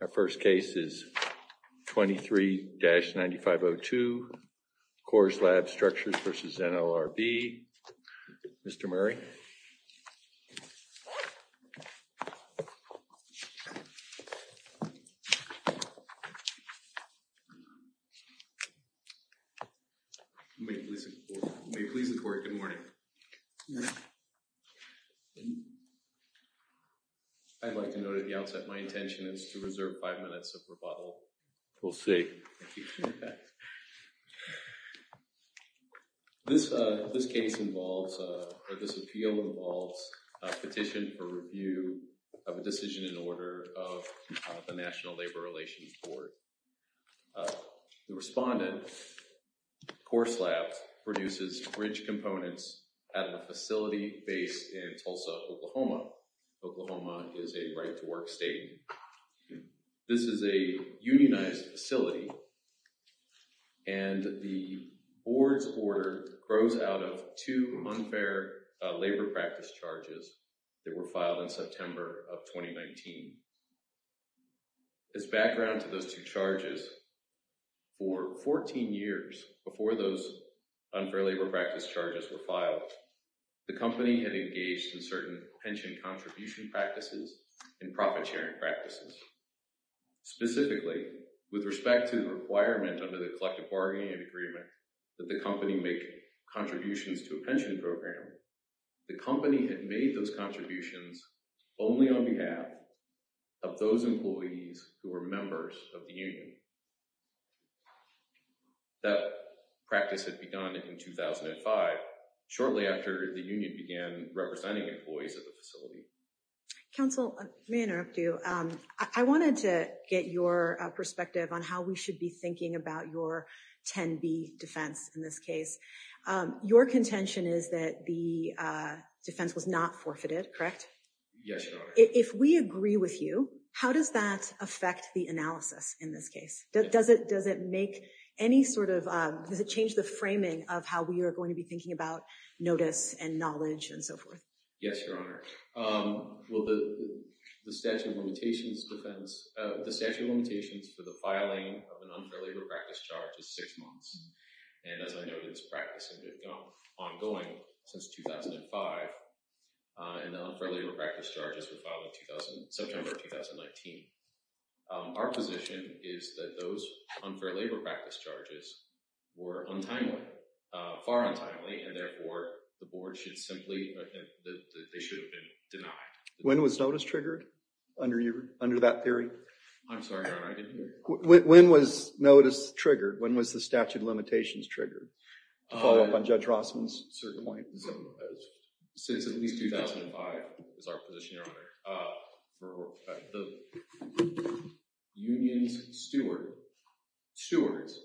Our first case is 23-9502 Coreslab Structures v. NLRB. Mr. Murray? May it please the Court, good morning. I'd like to note at the outset my intention is to reserve five minutes of rebuttal. We'll see. This case involves, or this appeal involves a petition for review of a decision in order of the National Labor Relations Board. The respondent, Coreslab, produces bridge components at a facility based in Tulsa, Oklahoma. Oklahoma is a right-to-work state. This is a unionized facility, and the board's order grows out of two unfair labor practice charges that were filed in September of 2019. As background to those two charges, for 14 years before those unfair labor practice charges were filed, the company had engaged in certain pension contribution practices and profit-sharing practices. Specifically, with respect to the requirement under the collective bargaining agreement that the company make contributions to a pension program, the company had made those contributions only on behalf of those employees who were members of the union. That practice had begun in 2005, shortly after the union began representing employees at the facility. Counsel, may I interrupt you? I wanted to get your perspective on how we should be thinking about your 10B defense in this case. Your contention is that the defense was not forfeited, correct? Yes, Your Honor. If we agree with you, how does that affect the analysis in this case? Does it change the framing of how we are going to be thinking about notice and knowledge and so forth? Yes, Your Honor. The statute of limitations for the filing of an unfair labor practice charge is six months. As I noted, this practice has been ongoing since 2005, and the unfair labor practice charges were filed in September of 2019. Our position is that those unfair labor practice charges were far untimely, and therefore the board should simply—they should have been denied. When was notice triggered under that theory? I'm sorry, Your Honor, I didn't hear you. When was notice triggered? When was the statute of limitations triggered? To follow up on Judge Rossman's point. Since at least 2005, is our position, Your Honor. The union's stewards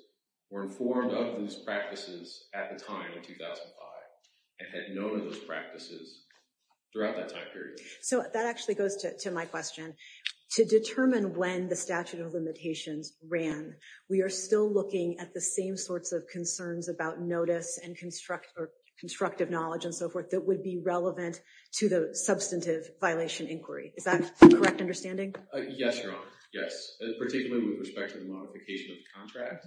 were informed of these practices at the time, in 2005, and had known of those practices throughout that time period. So that actually goes to my question. To determine when the statute of limitations ran, we are still looking at the same sorts of concerns about notice and constructive knowledge and so forth that would be relevant to the substantive violation inquiry. Is that a correct understanding? Yes, Your Honor. Yes. Particularly with respect to the modification of the contract,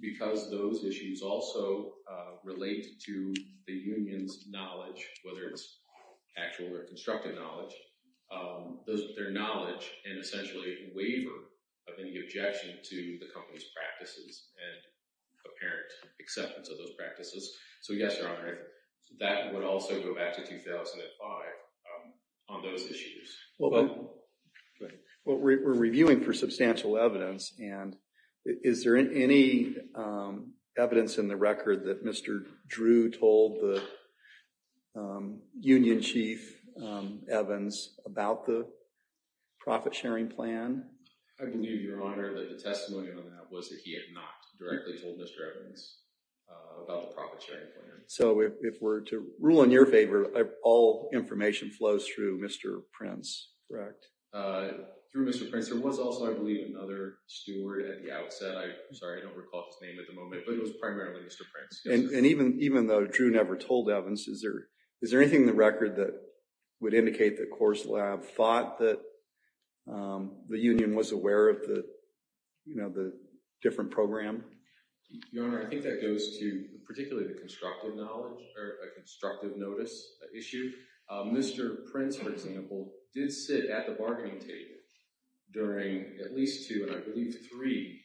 because those issues also relate to the union's knowledge, whether it's actual or constructive knowledge. Their knowledge and essentially waiver of any objection to the company's practices and apparent acceptance of those practices. So yes, Your Honor, that would also go back to 2005 on those issues. Well, we're reviewing for substantial evidence, and is there any evidence in the record that Mr. Drew told the union chief, Evans, about the profit sharing plan? I can do, Your Honor, that the testimony on that was that he had not directly told Mr. Evans about the profit sharing plan. So if we're to rule in your favor, all information flows through Mr. Prince, correct? Through Mr. Prince. There was also, I believe, another steward at the outset. I'm sorry, I don't recall his name at the moment, but it was primarily Mr. Prince. And even though Drew never told Evans, is there anything in the record that would indicate that Coors Lab thought that the union was aware of the different program? Your Honor, I think that goes to particularly the constructive knowledge, or a constructive notice issue. Mr. Prince, for example, did sit at the bargaining table during at least two, and I believe three,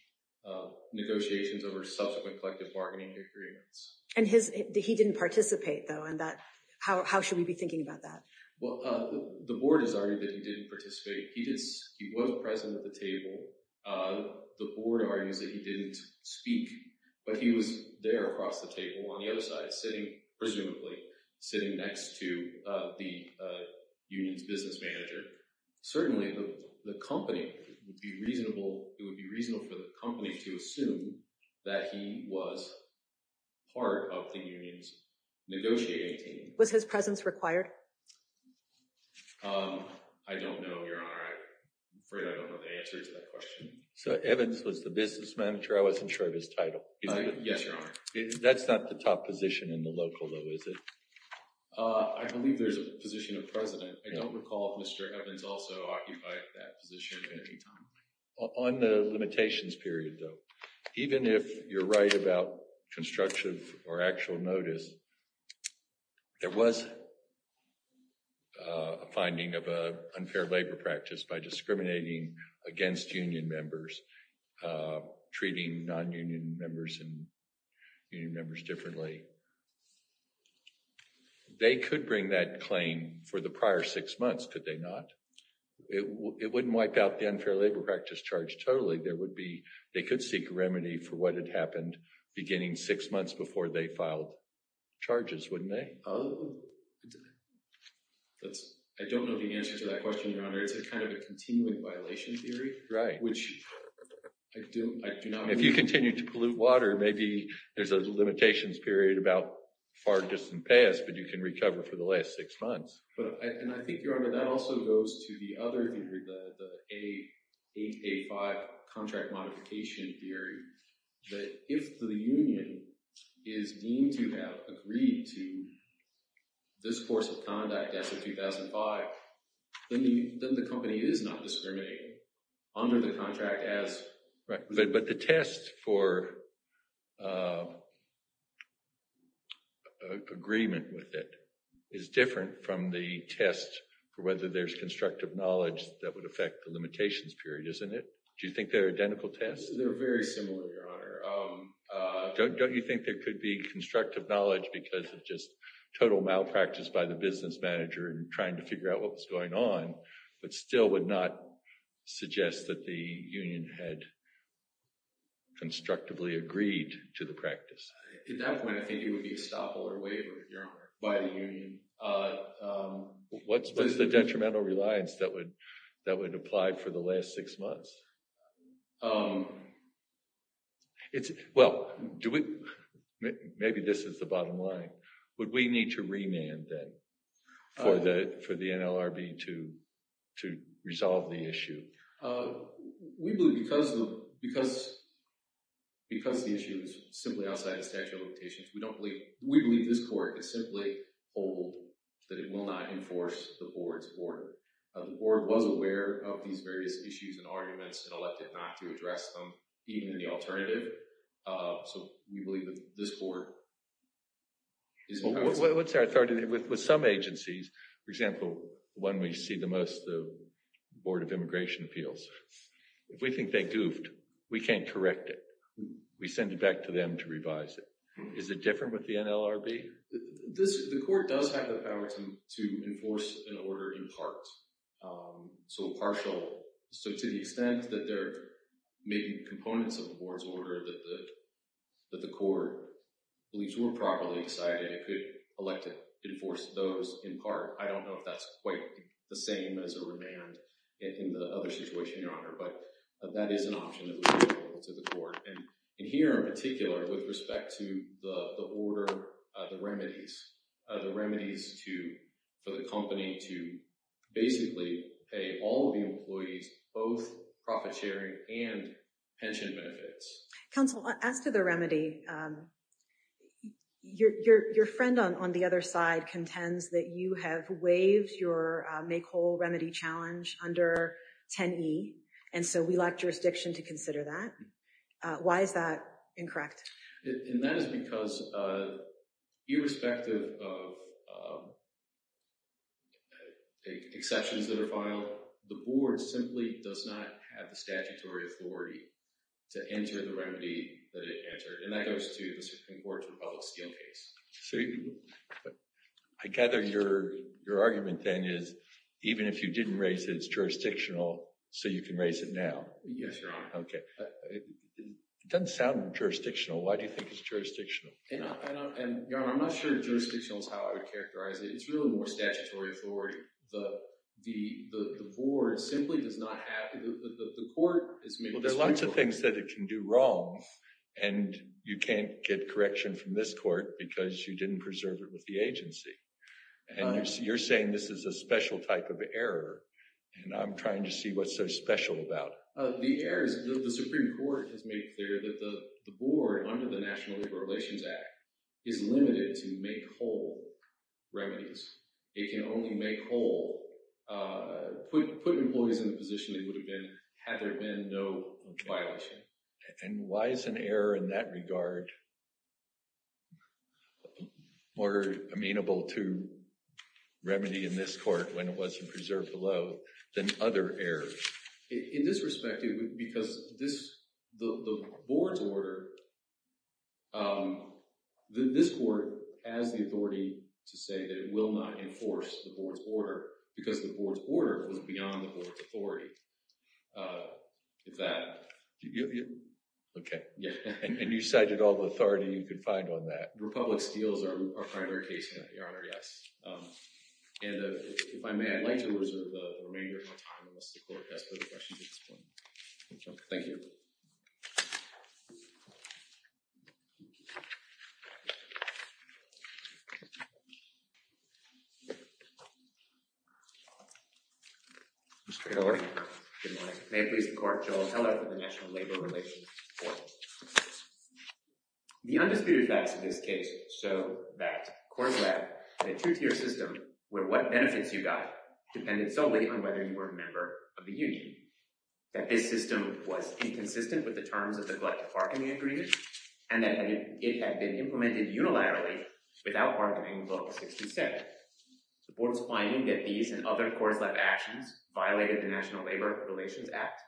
negotiations over subsequent collective bargaining agreements. And he didn't participate, though, and how should we be thinking about that? Well, the board has argued that he didn't participate. He was present at the table. The board argues that he didn't speak, but he was there across the table on the other side, sitting, presumably, sitting next to the union's business manager. Certainly, the company, it would be reasonable for the company to assume that he was part of the union's negotiating team. Was his presence required? I don't know, Your Honor. I'm afraid I don't know the answer to that question. So Evans was the business manager? I wasn't sure of his title. Yes, Your Honor. That's not the top position in the local, though, is it? I believe there's a position of president. I don't recall if Mr. Evans also occupied that position at any time. On the limitations period, though, even if you're right about construction or actual notice, there was a finding of an unfair labor practice by discriminating against union members, treating nonunion members and union members differently. They could bring that claim for the prior six months, could they not? It wouldn't wipe out the unfair labor practice charge totally. They could seek a remedy for what had happened beginning six months before they filed charges, wouldn't they? I don't know the answer to that question, Your Honor. It's a kind of a continuing violation theory. Right. Which I do not believe. If you continue to pollute water, maybe there's a limitations period about far distant past, but you can recover for the last six months. And I think, Your Honor, that also goes to the other theory, the A885 contract modification theory, that if the union is deemed to have agreed to this course of conduct as of 2005, then the company is not discriminating under the contract as— on the test for whether there's constructive knowledge that would affect the limitations period, isn't it? Do you think they're identical tests? They're very similar, Your Honor. Don't you think there could be constructive knowledge because of just total malpractice by the business manager in trying to figure out what was going on, but still would not suggest that the union had constructively agreed to the practice? At that point, I think it would be estoppel or waiver, Your Honor, by the union. What's the detrimental reliance that would apply for the last six months? Well, do we—maybe this is the bottom line. Would we need to remand, then, for the NLRB to resolve the issue? We believe because the issue is simply outside the statute of limitations, we don't believe—we believe this court is simply told that it will not enforce the board's order. The board was aware of these various issues and arguments and elected not to address them, even in the alternative. So we believe that this board is— Let's start with some agencies. For example, one we see the most, the Board of Immigration Appeals. If we think they goofed, we can't correct it. We send it back to them to revise it. Is it different with the NLRB? The court does have the power to enforce an order in part. So a partial—so to the extent that they're making components of the board's order that the court believes were properly decided, it could elect to enforce those in part. I don't know if that's quite the same as a remand in the other situation, Your Honor, but that is an option that would be applicable to the court. And here in particular, with respect to the order, the remedies, the remedies to—for the company to basically pay all of the employees both profit sharing and pension benefits. Counsel, as to the remedy, your friend on the other side contends that you have waived your make whole remedy challenge under 10E. And so we lack jurisdiction to consider that. Why is that incorrect? And that is because irrespective of exceptions that are filed, the board simply does not have the statutory authority to enter the remedy that it entered. And that goes to the Supreme Court's Republic of Steel case. So I gather your argument then is even if you didn't raise it, it's jurisdictional, so you can raise it now. Yes, Your Honor. Okay. It doesn't sound jurisdictional. Why do you think it's jurisdictional? Your Honor, I'm not sure jurisdictional is how I would characterize it. It's really more statutory authority. The board simply does not have—the court is— Well, there are lots of things that it can do wrong, and you can't get correction from this court because you didn't preserve it with the agency. And you're saying this is a special type of error, and I'm trying to see what's so special about it. The error is the Supreme Court has made clear that the board under the National Labor Relations Act is limited to make whole remedies. It can only make whole—put employees in a position that would have been—had there been no violation. And why is an error in that regard more amenable to remedy in this court when it wasn't preserved below than other errors? In this respect, because this—the board's order—this court has the authority to say that it will not enforce the board's order because the board's order was beyond the board's authority. If that— Okay. And you cited all the authority you could find on that. The Republic steals our primary case here, Your Honor, yes. And if I may, I'd like to reserve the remainder of my time unless the court has further questions at this point. Thank you. Mr. Keller. Good morning. May it please the Court, Joe Keller for the National Labor Relations Court. The undisputed facts of this case show that Coors Lab had a two-tier system where what benefits you got depended solely on whether you were a member of the union, that this system was inconsistent with the terms of the collective bargaining agreement, and that it had been implemented unilaterally without bargaining with Article 67. The board's finding that these and other Coors Lab actions violated the National Labor Relations Act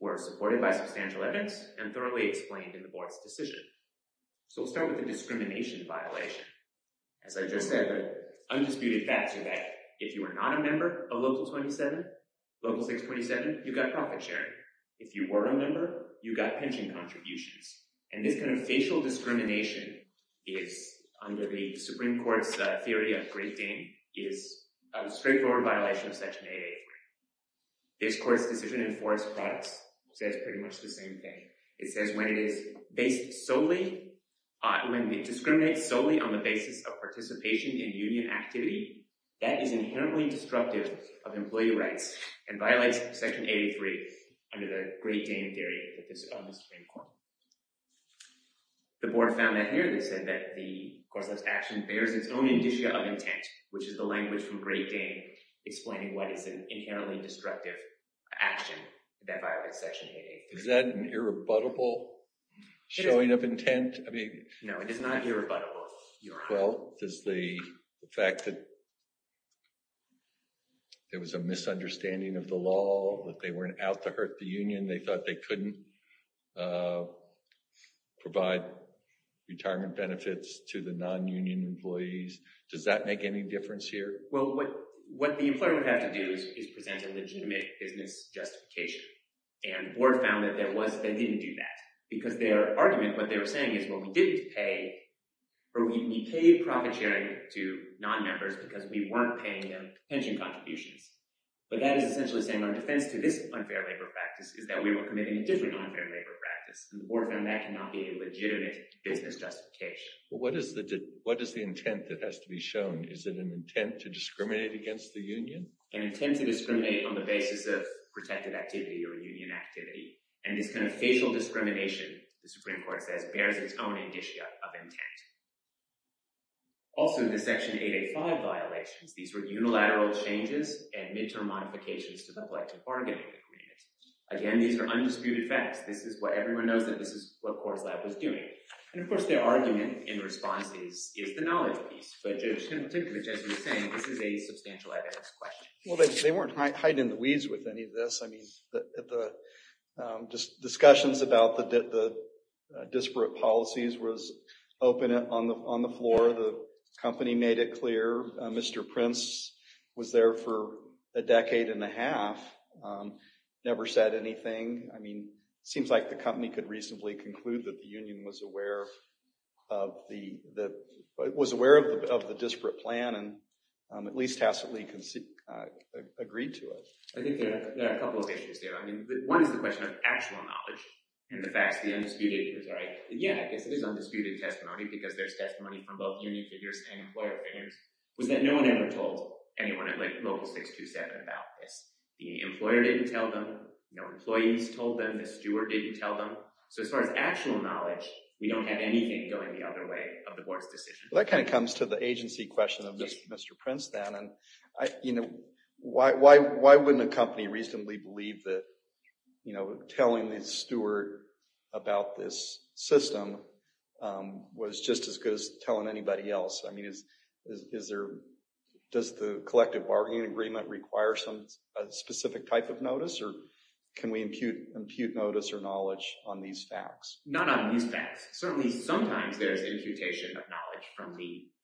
were supported by substantial evidence and thoroughly explained in the board's decision. So we'll start with the discrimination violation. As I just said, the undisputed facts are that if you were not a member of Local 627, you got profit sharing. If you were a member, you got pension contributions. And this kind of facial discrimination is, under the Supreme Court's theory of great dame, is a straightforward violation of Section 883. This court's decision in Forest Products says pretty much the same thing. It says when it discriminates solely on the basis of participation in union activity, that is inherently destructive of employee rights and violates Section 883 under the great dame theory of the Supreme Court. The board found that here. They said that the Coors Lab's action bears its own indicia of intent, which is the language from great dame explaining what is an inherently destructive action that violates Section 883. Is that an irrebuttable showing of intent? No, it is not irrebuttable, Your Honor. Well, does the fact that there was a misunderstanding of the law, that they were out to hurt the union, they thought they couldn't provide retirement benefits to the non-union employees, does that make any difference here? Well, what the employer would have to do is present a legitimate business justification. And the board found that they didn't do that. Because their argument, what they were saying is, well, we paid profit sharing to non-members because we weren't paying them pension contributions. But that is essentially saying our defense to this unfair labor practice is that we were committing a different unfair labor practice. And the board found that cannot be a legitimate business justification. What is the intent that has to be shown? Is it an intent to discriminate against the union? An intent to discriminate on the basis of protected activity or union activity. And this kind of facial discrimination, the Supreme Court says, bears its own indicia of intent. Also, the Section 885 violations, these were unilateral changes and midterm modifications to the collective bargaining agreement. Again, these are undisputed facts. This is what everyone knows that this is what Coors Lab was doing. And of course, their argument in response is the knowledge piece. But typically, as you were saying, this is a substantial evidence question. Well, they weren't hiding the weeds with any of this. I mean, the discussions about the disparate policies was open on the floor. The company made it clear. Mr. Prince was there for a decade and a half, never said anything. I mean, it seems like the company could reasonably conclude that the union was aware of the disparate plan and at least tacitly agreed to it. I think there are a couple of issues there. I mean, one is the question of actual knowledge and the facts, the undisputed. Yeah, I guess it is undisputed testimony because there's testimony from both union figures and employer figures, was that no one ever told anyone at like Local 627 about this. The employer didn't tell them, employees told them, the steward didn't tell them. So as far as actual knowledge, we don't have anything going the other way of the board's decision. That kind of comes to the agency question of Mr. Prince then. And, you know, why wouldn't a company reasonably believe that, you know, telling the steward about this system was just as good as telling anybody else? I mean, is there, does the collective bargaining agreement require some specific type of notice or can we impute notice or knowledge on these facts? Not on these facts. Certainly sometimes there's imputation of knowledge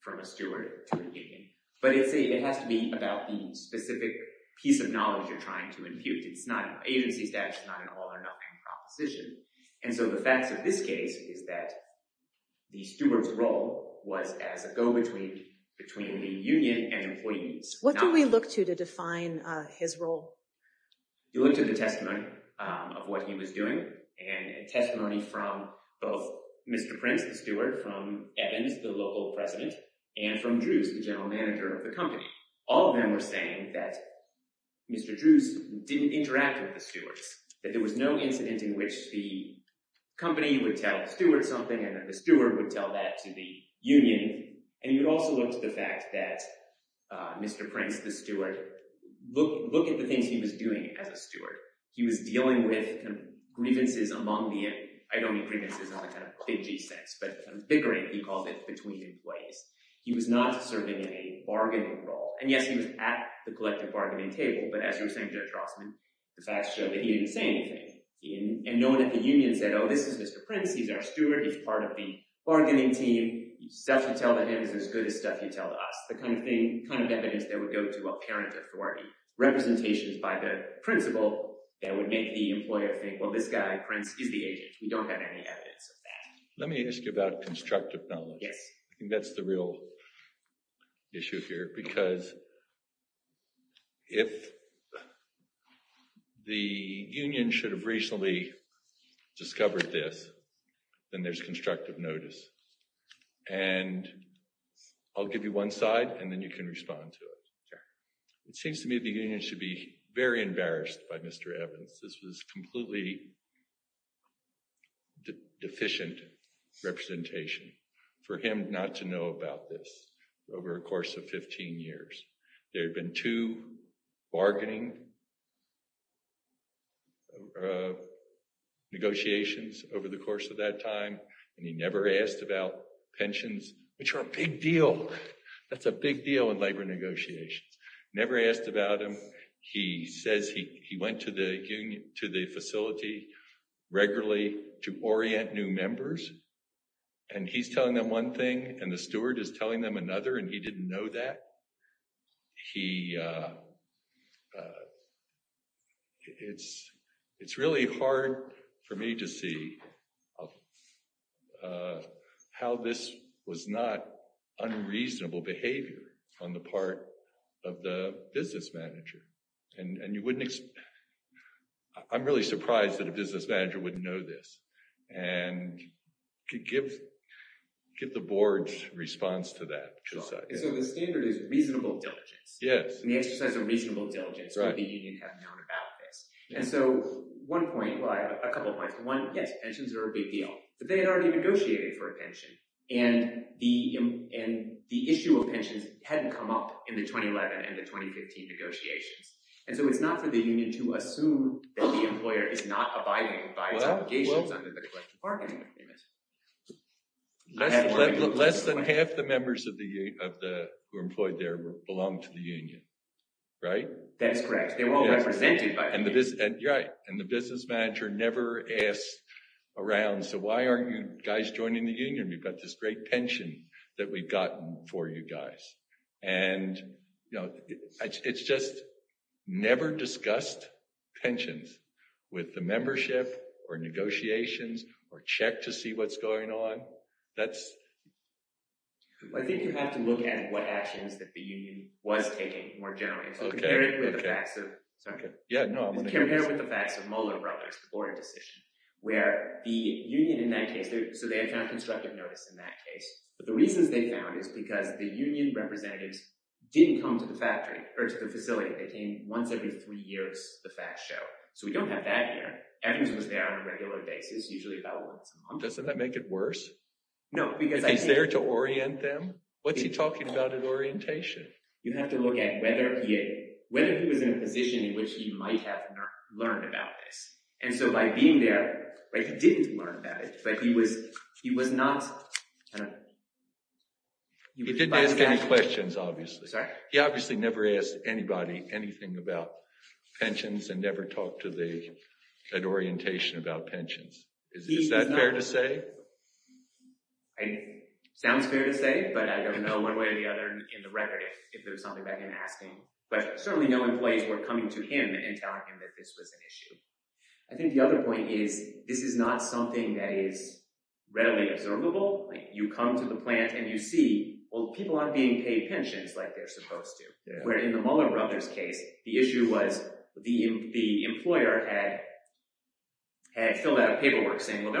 from a steward to a union. But it has to be about the specific piece of knowledge you're trying to impute. It's not agency status, it's not an all or nothing proposition. And so the facts of this case is that the steward's role was as a go-between between the union and employees. What do we look to to define his role? You look to the testimony of what he was doing and testimony from both Mr. Prince, the steward, from Evans, the local president, and from Drews, the general manager of the company. All of them were saying that Mr. Drews didn't interact with the stewards. That there was no incident in which the company would tell the steward something and that the steward would tell that to the union. And you would also look to the fact that Mr. Prince, the steward, look at the things he was doing as a steward. He was dealing with grievances among the, I don't mean grievances in the kind of fidgy sense, but vigorant, he called it, between employees. He was not serving in a bargaining role. And yes, he was at the collective bargaining table, but as you were saying, Judge Rossman, the facts show that he didn't say anything. And no one at the union said, oh, this is Mr. Prince, he's our steward, he's part of the bargaining team. Stuff you tell to him is as good as stuff you tell to us. The kind of evidence that would go to a parent authority. Representations by the principal that would make the employer think, well, this guy, Prince, is the agent. We don't have any evidence of that. Let me ask you about constructive knowledge. Yes. That's the real issue here, because if the union should have recently discovered this, then there's constructive notice. And I'll give you one side and then you can respond to it. It seems to me the union should be very embarrassed by Mr. Evans. This was completely deficient representation for him not to know about this over a course of 15 years. There had been two bargaining negotiations over the course of that time. And he never asked about pensions, which are a big deal. That's a big deal in labor negotiations. Never asked about them. He says he went to the facility regularly to orient new members. And he's telling them one thing and the steward is telling them another. And he didn't know that. He it's it's really hard for me to see how this was not unreasonable behavior on the part of the business manager. And you wouldn't. I'm really surprised that a business manager wouldn't know this and could give get the board's response to that. So the standard is reasonable diligence. Yes. The exercise of reasonable diligence. Right. The union has known about this. And so one point, a couple of points. One, yes, pensions are a big deal, but they had already negotiated for a pension. And the issue of pensions hadn't come up in the 2011 and the 2015 negotiations. And so it's not for the union to assume that the employer is not abiding by its obligations under the collective bargaining agreement. Less than half the members of the who are employed there belong to the union. Right. That's correct. They were all represented by the union. And the business manager never asked around. So why aren't you guys joining the union? We've got this great pension that we've gotten for you guys. And, you know, it's just never discussed pensions with the membership or negotiations or check to see what's going on. That's. I think you have to look at what actions that the union was taking more generally. Okay. Okay. Yeah. No. Compared with the facts of Mueller or a decision where the union in that case. So they have found constructive notice in that case. But the reasons they found is because the union representatives didn't come to the factory or to the facility. They came once every three years. The facts show. So we don't have that here. Evans was there on a regular basis, usually about once a month. Doesn't that make it worse? No, because he's there to orient them. What's he talking about in orientation? You have to look at whether he was in a position in which he might have learned about this. And so by being there, he didn't learn about it. But he was not. He didn't ask any questions, obviously. He obviously never asked anybody anything about pensions and never talked to them at orientation about pensions. Is that fair to say? Sounds fair to say, but I don't know one way or the other in the record if there's something about him asking questions. Certainly no employees were coming to him and telling him that this was an issue. I think the other point is this is not something that is readily observable. You come to the plant, and you see, well, people aren't being paid pensions like they're supposed to. Where in the Mueller brothers' case, the issue was the employer had filled out a paperwork saying, well,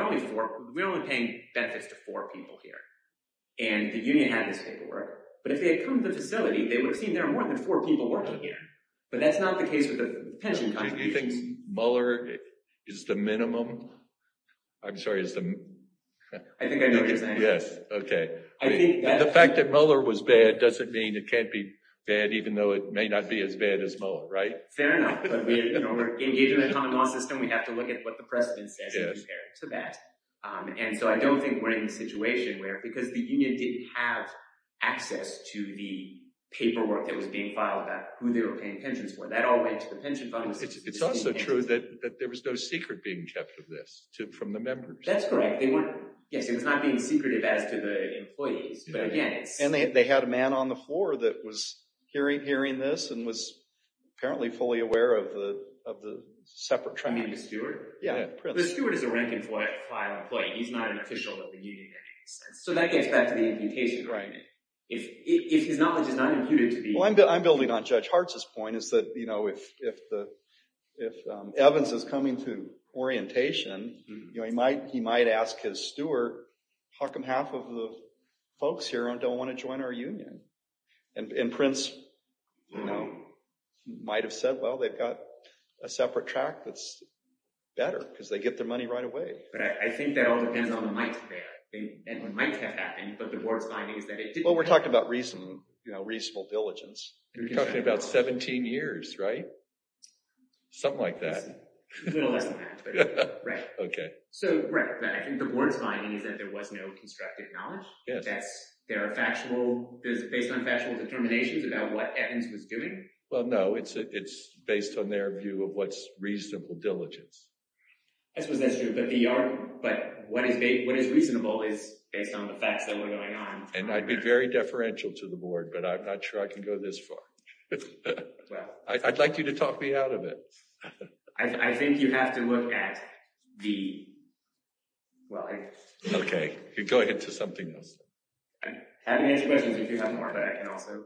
we're only paying benefits to four people here. And the union had this paperwork. But if they had come to the facility, they would have seen there are more than four people working here. But that's not the case with the pension contributions. Do you think Mueller is the minimum? I'm sorry. I think I noticed that. Yes, okay. The fact that Mueller was bad doesn't mean it can't be bad, even though it may not be as bad as Mueller, right? Fair enough. But we're engaged in a common law system. We have to look at what the precedent says in comparison to that. And so I don't think we're in a situation where, because the union didn't have access to the paperwork that was being filed about who they were paying pensions for. That all went to the pension fund. It's also true that there was no secret being kept of this from the members. That's correct. Yes, it was not being secretive as to the employees. And they had a man on the floor that was hearing this and was apparently fully aware of the separate trend. You mean the steward? Yeah. The steward is a rank-and-file employee. He's not an official of the union in any sense. So that gets back to the imputation. Right. If his knowledge is not imputed to the— Well, I'm building on Judge Hartz's point, is that if Evans is coming to orientation, he might ask his steward, how come half of the folks here don't want to join our union? And Prince might have said, well, they've got a separate track that's better because they get their money right away. But I think that all depends on the might there. The might has happened, but the board's finding is that it didn't happen. Well, we're talking about reasonable diligence. You're talking about 17 years, right? Something like that. A little less than that. Right. Okay. So, right. I think the board's finding is that there was no constructive knowledge. Yes. There are factual—based on factual determinations about what Evans was doing. Well, no. It's based on their view of what's reasonable diligence. I suppose that's true. But what is reasonable is based on the facts that were going on. And I'd be very deferential to the board, but I'm not sure I can go this far. Well— I'd like you to talk me out of it. I think you have to look at the—well, I— Okay. You're going into something else. I can answer questions if you have more, but I can also—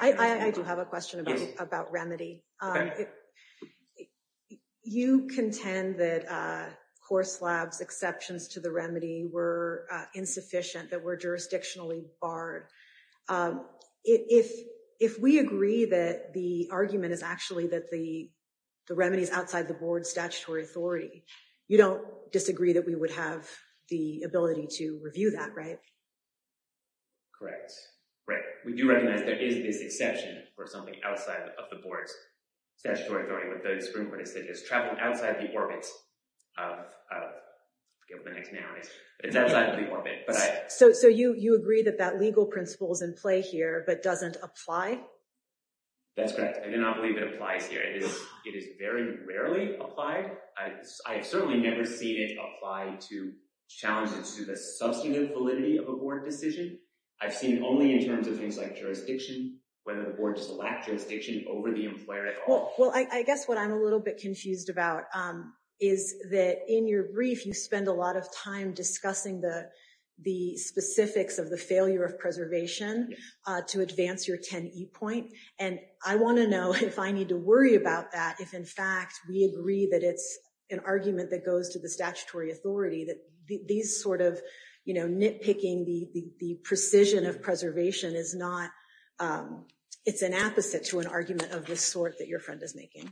I do have a question about remedy. Okay. You contend that Horselab's exceptions to the remedy were insufficient, that were jurisdictionally barred. If we agree that the argument is actually that the remedy is outside the board's statutory authority, you don't disagree that we would have the ability to review that, right? Correct. Right. We do recognize there is this exception for something outside of the board's statutory authority. What the Supreme Court has said is travel outside the orbit of—I'll get with the next noun. It's outside of the orbit, but I— So you agree that that legal principle is in play here but doesn't apply? That's correct. I do not believe it applies here. It is very rarely applied. I have certainly never seen it apply to challenges to the substantive validity of a board decision. I've seen it only in terms of things like jurisdiction, whether the board does lack jurisdiction over the employer at all. Well, I guess what I'm a little bit confused about is that in your brief, you spend a lot of time discussing the specifics of the failure of preservation to advance your 10E point. And I want to know if I need to worry about that if, in fact, we agree that it's an argument that goes to the statutory authority, that these sort of, you know, nitpicking the precision of preservation is not—it's an opposite to an argument of this sort that your friend is making.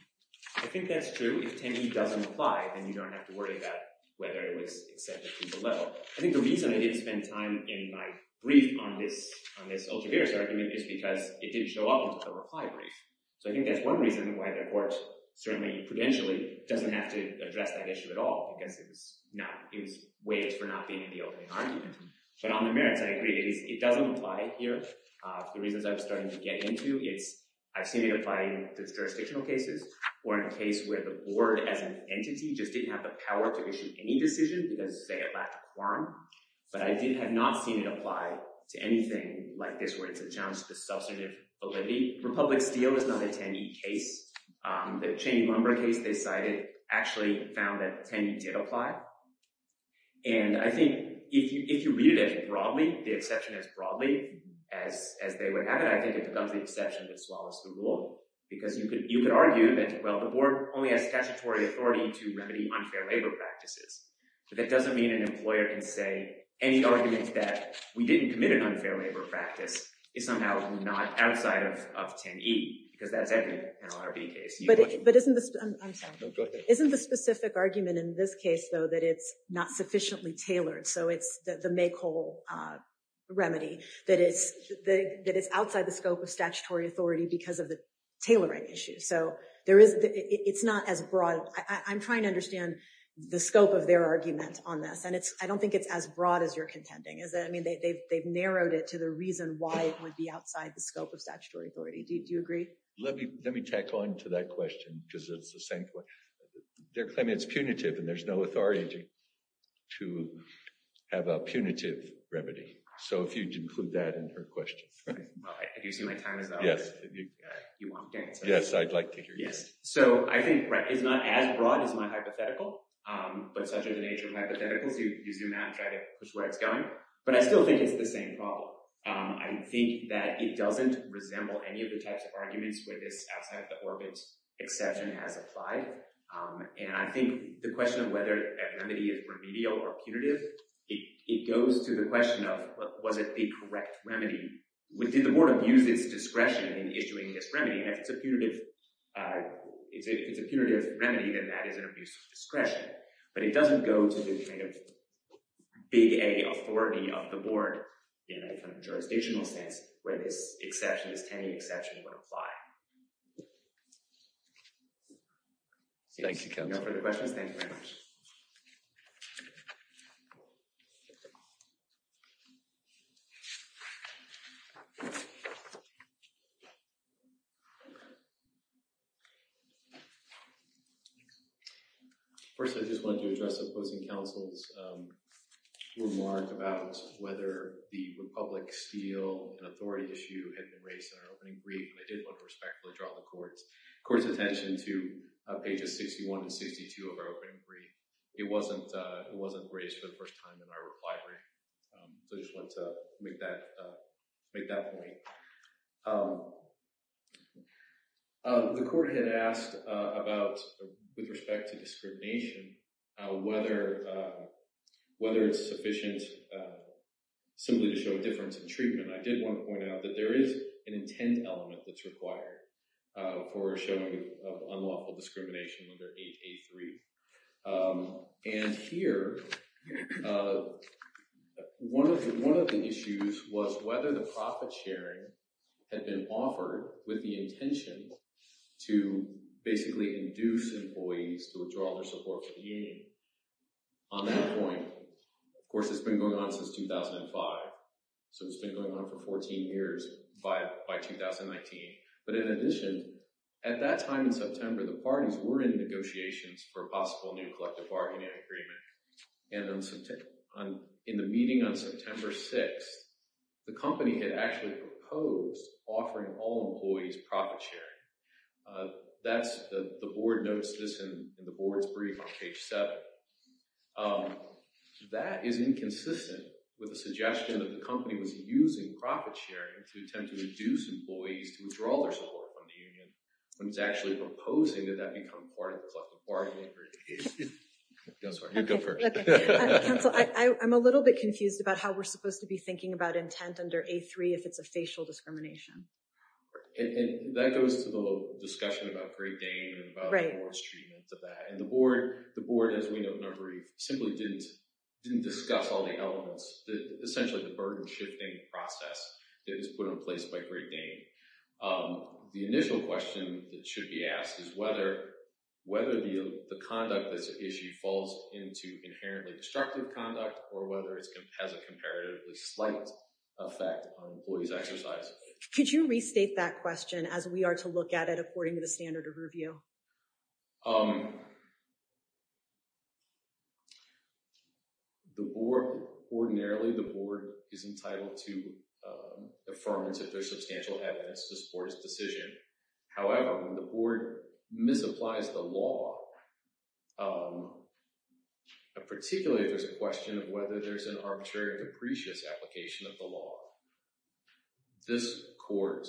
I think that's true. If 10E doesn't apply, then you don't have to worry about whether it was accepted to the level. I think the reason I didn't spend time in my brief on this ultraviarious argument is because it didn't show up in the reply brief. So I think that's one reason why the court certainly prudentially doesn't have to address that issue at all because it was not—it was waived for not being in the opening argument. But on the merits, I agree. It doesn't apply here. The reasons I was starting to get into is I've seen it apply in jurisdictional cases or in a case where the board as an entity just didn't have the power to issue any decision because, say, it lacked a quorum. But I have not seen it apply to anything like this where it's a challenge to the substantive validity. Republic Steel is not a 10E case. The Cheney-Lumber case they cited actually found that 10E did apply. And I think if you read it as broadly, the exception as broadly as they would have it, I think it becomes the exception that swallows the rule because you could argue that, well, the board only has statutory authority to remedy unfair labor practices. But that doesn't mean an employer can say any argument that we didn't commit an unfair labor practice is somehow not outside of 10E because that's every NLRB case. But isn't the—I'm sorry. No, go ahead. Isn't the specific argument in this case, though, that it's not sufficiently tailored, so it's the make whole remedy, that it's outside the scope of statutory authority because of the tailoring issue? So it's not as broad. I'm trying to understand the scope of their argument on this. And I don't think it's as broad as you're contending. I mean, they've narrowed it to the reason why it would be outside the scope of statutory authority. Do you agree? Let me tack on to that question because it's the same point. They're claiming it's punitive and there's no authority to have a punitive remedy. So if you'd include that in her question. Well, if you see my time is up, you won't get it. Yes, I'd like to hear you. So I think it's not as broad as my hypothetical, but such is the nature of hypotheticals. You zoom out and try to push where it's going. But I still think it's the same problem. I think that it doesn't resemble any of the types of arguments where this outside-of-the-orbit exception has applied. And I think the question of whether a remedy is remedial or punitive, it goes to the question of was it the correct remedy. Did the board abuse its discretion in issuing this remedy? And if it's a punitive remedy, then that is an abuse of discretion. But it doesn't go to the kind of big A authority of the board in a kind of jurisdictional sense where this exception, this tending exception would apply. Thank you, counsel. If there are no further questions, thank you very much. First, I just wanted to address opposing counsel's remark about whether the Republic steal an authority issue had been raised in our opening brief. I did want to respectfully draw the court's attention to pages 61 and 62 of our opening brief. It wasn't raised for the first time in our library. So I just wanted to make that point. The court had asked about, with respect to discrimination, whether it's sufficient simply to show a difference in treatment. I did want to point out that there is an intent element that's required for showing unlawful discrimination under 883. And here, one of the issues was whether the profit sharing had been offered with the intention to basically induce employees to withdraw their support for the union. On that point, of course, it's been going on since 2005. So it's been going on for 14 years by 2019. But in addition, at that time in September, the parties were in negotiations for a possible new collective bargaining agreement. And in the meeting on September 6th, the company had actually proposed offering all employees profit sharing. The board notes this in the board's brief on page 7. That is inconsistent with the suggestion that the company was using profit sharing to attempt to induce employees to withdraw their support from the union. When it's actually proposing that that become part of the collective bargaining agreement. You go first. Counsel, I'm a little bit confused about how we're supposed to be thinking about intent under 83 if it's a facial discrimination. And that goes to the discussion about Great Dane and about the board's treatment of that. And the board, as we note in our brief, simply didn't discuss all the elements, essentially the burden-shifting process that was put in place by Great Dane. The initial question that should be asked is whether the conduct of this issue falls into inherently destructive conduct or whether it has a comparatively slight effect on employees exercising it. Could you restate that question as we are to look at it according to the standard of review? Um. The board ordinarily the board is entitled to the firm's if there's substantial evidence to support his decision. However, the board misapplies the law. Um. Particularly if there's a question of whether there's an arbitrary or capricious application of the law. This court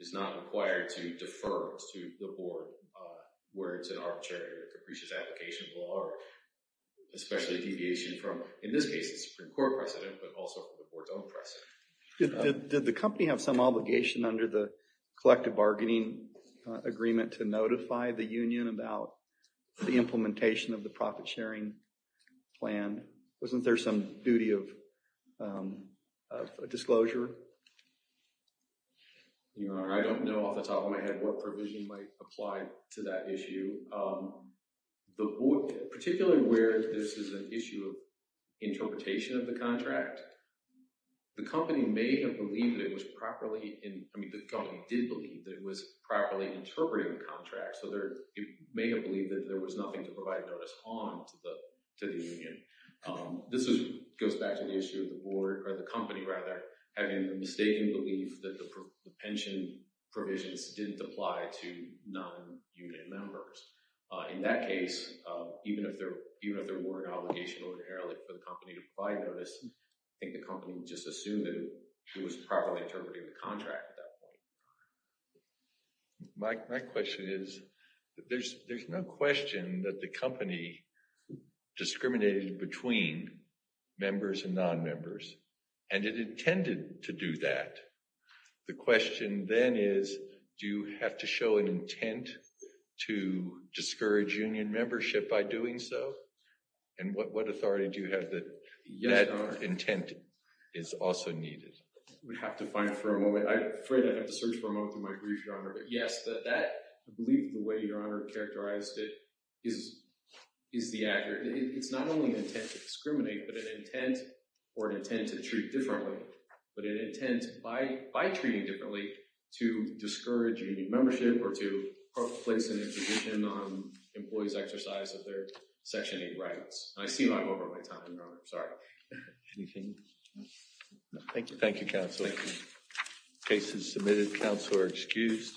is not required to defer to the board where it's an arbitrary or capricious application of the law. Especially deviation from, in this case, the Supreme Court precedent, but also from the board's own precedent. Did the company have some obligation under the collective bargaining agreement to notify the union about the implementation of the profit-sharing plan? Wasn't there some duty of disclosure? Your Honor, I don't know off the top of my head what provision might apply to that issue. Particularly where this is an issue of interpretation of the contract. The company may have believed that it was properly, I mean the company did believe that it was properly interpreting the contract. So it may have believed that there was nothing to provide notice on to the union. This goes back to the issue of the board, or the company rather, having mistakenly believed that the pension provisions didn't apply to non-unit members. In that case, even if there were an obligation ordinarily for the company to provide notice, I think the company would just assume that it was properly interpreting the contract at that point. My question is, there's no question that the company discriminated between members and non-members. And it intended to do that. The question then is, do you have to show an intent to discourage union membership by doing so? And what authority do you have that that intent is also needed? We'd have to find it for a moment. I'm afraid I'd have to search for a moment through my brief, Your Honor. But yes, that, I believe the way Your Honor characterized it, is the aggregate. It's not only an intent to discriminate, but an intent, or an intent to treat differently. But an intent, by treating differently, to discourage union membership or to place an imposition on employees' exercise of their Section 8 rights. I seem I'm over my time, Your Honor. Sorry. Anything? No, thank you. Thank you, Counsel. Case is submitted. Counsel are excused.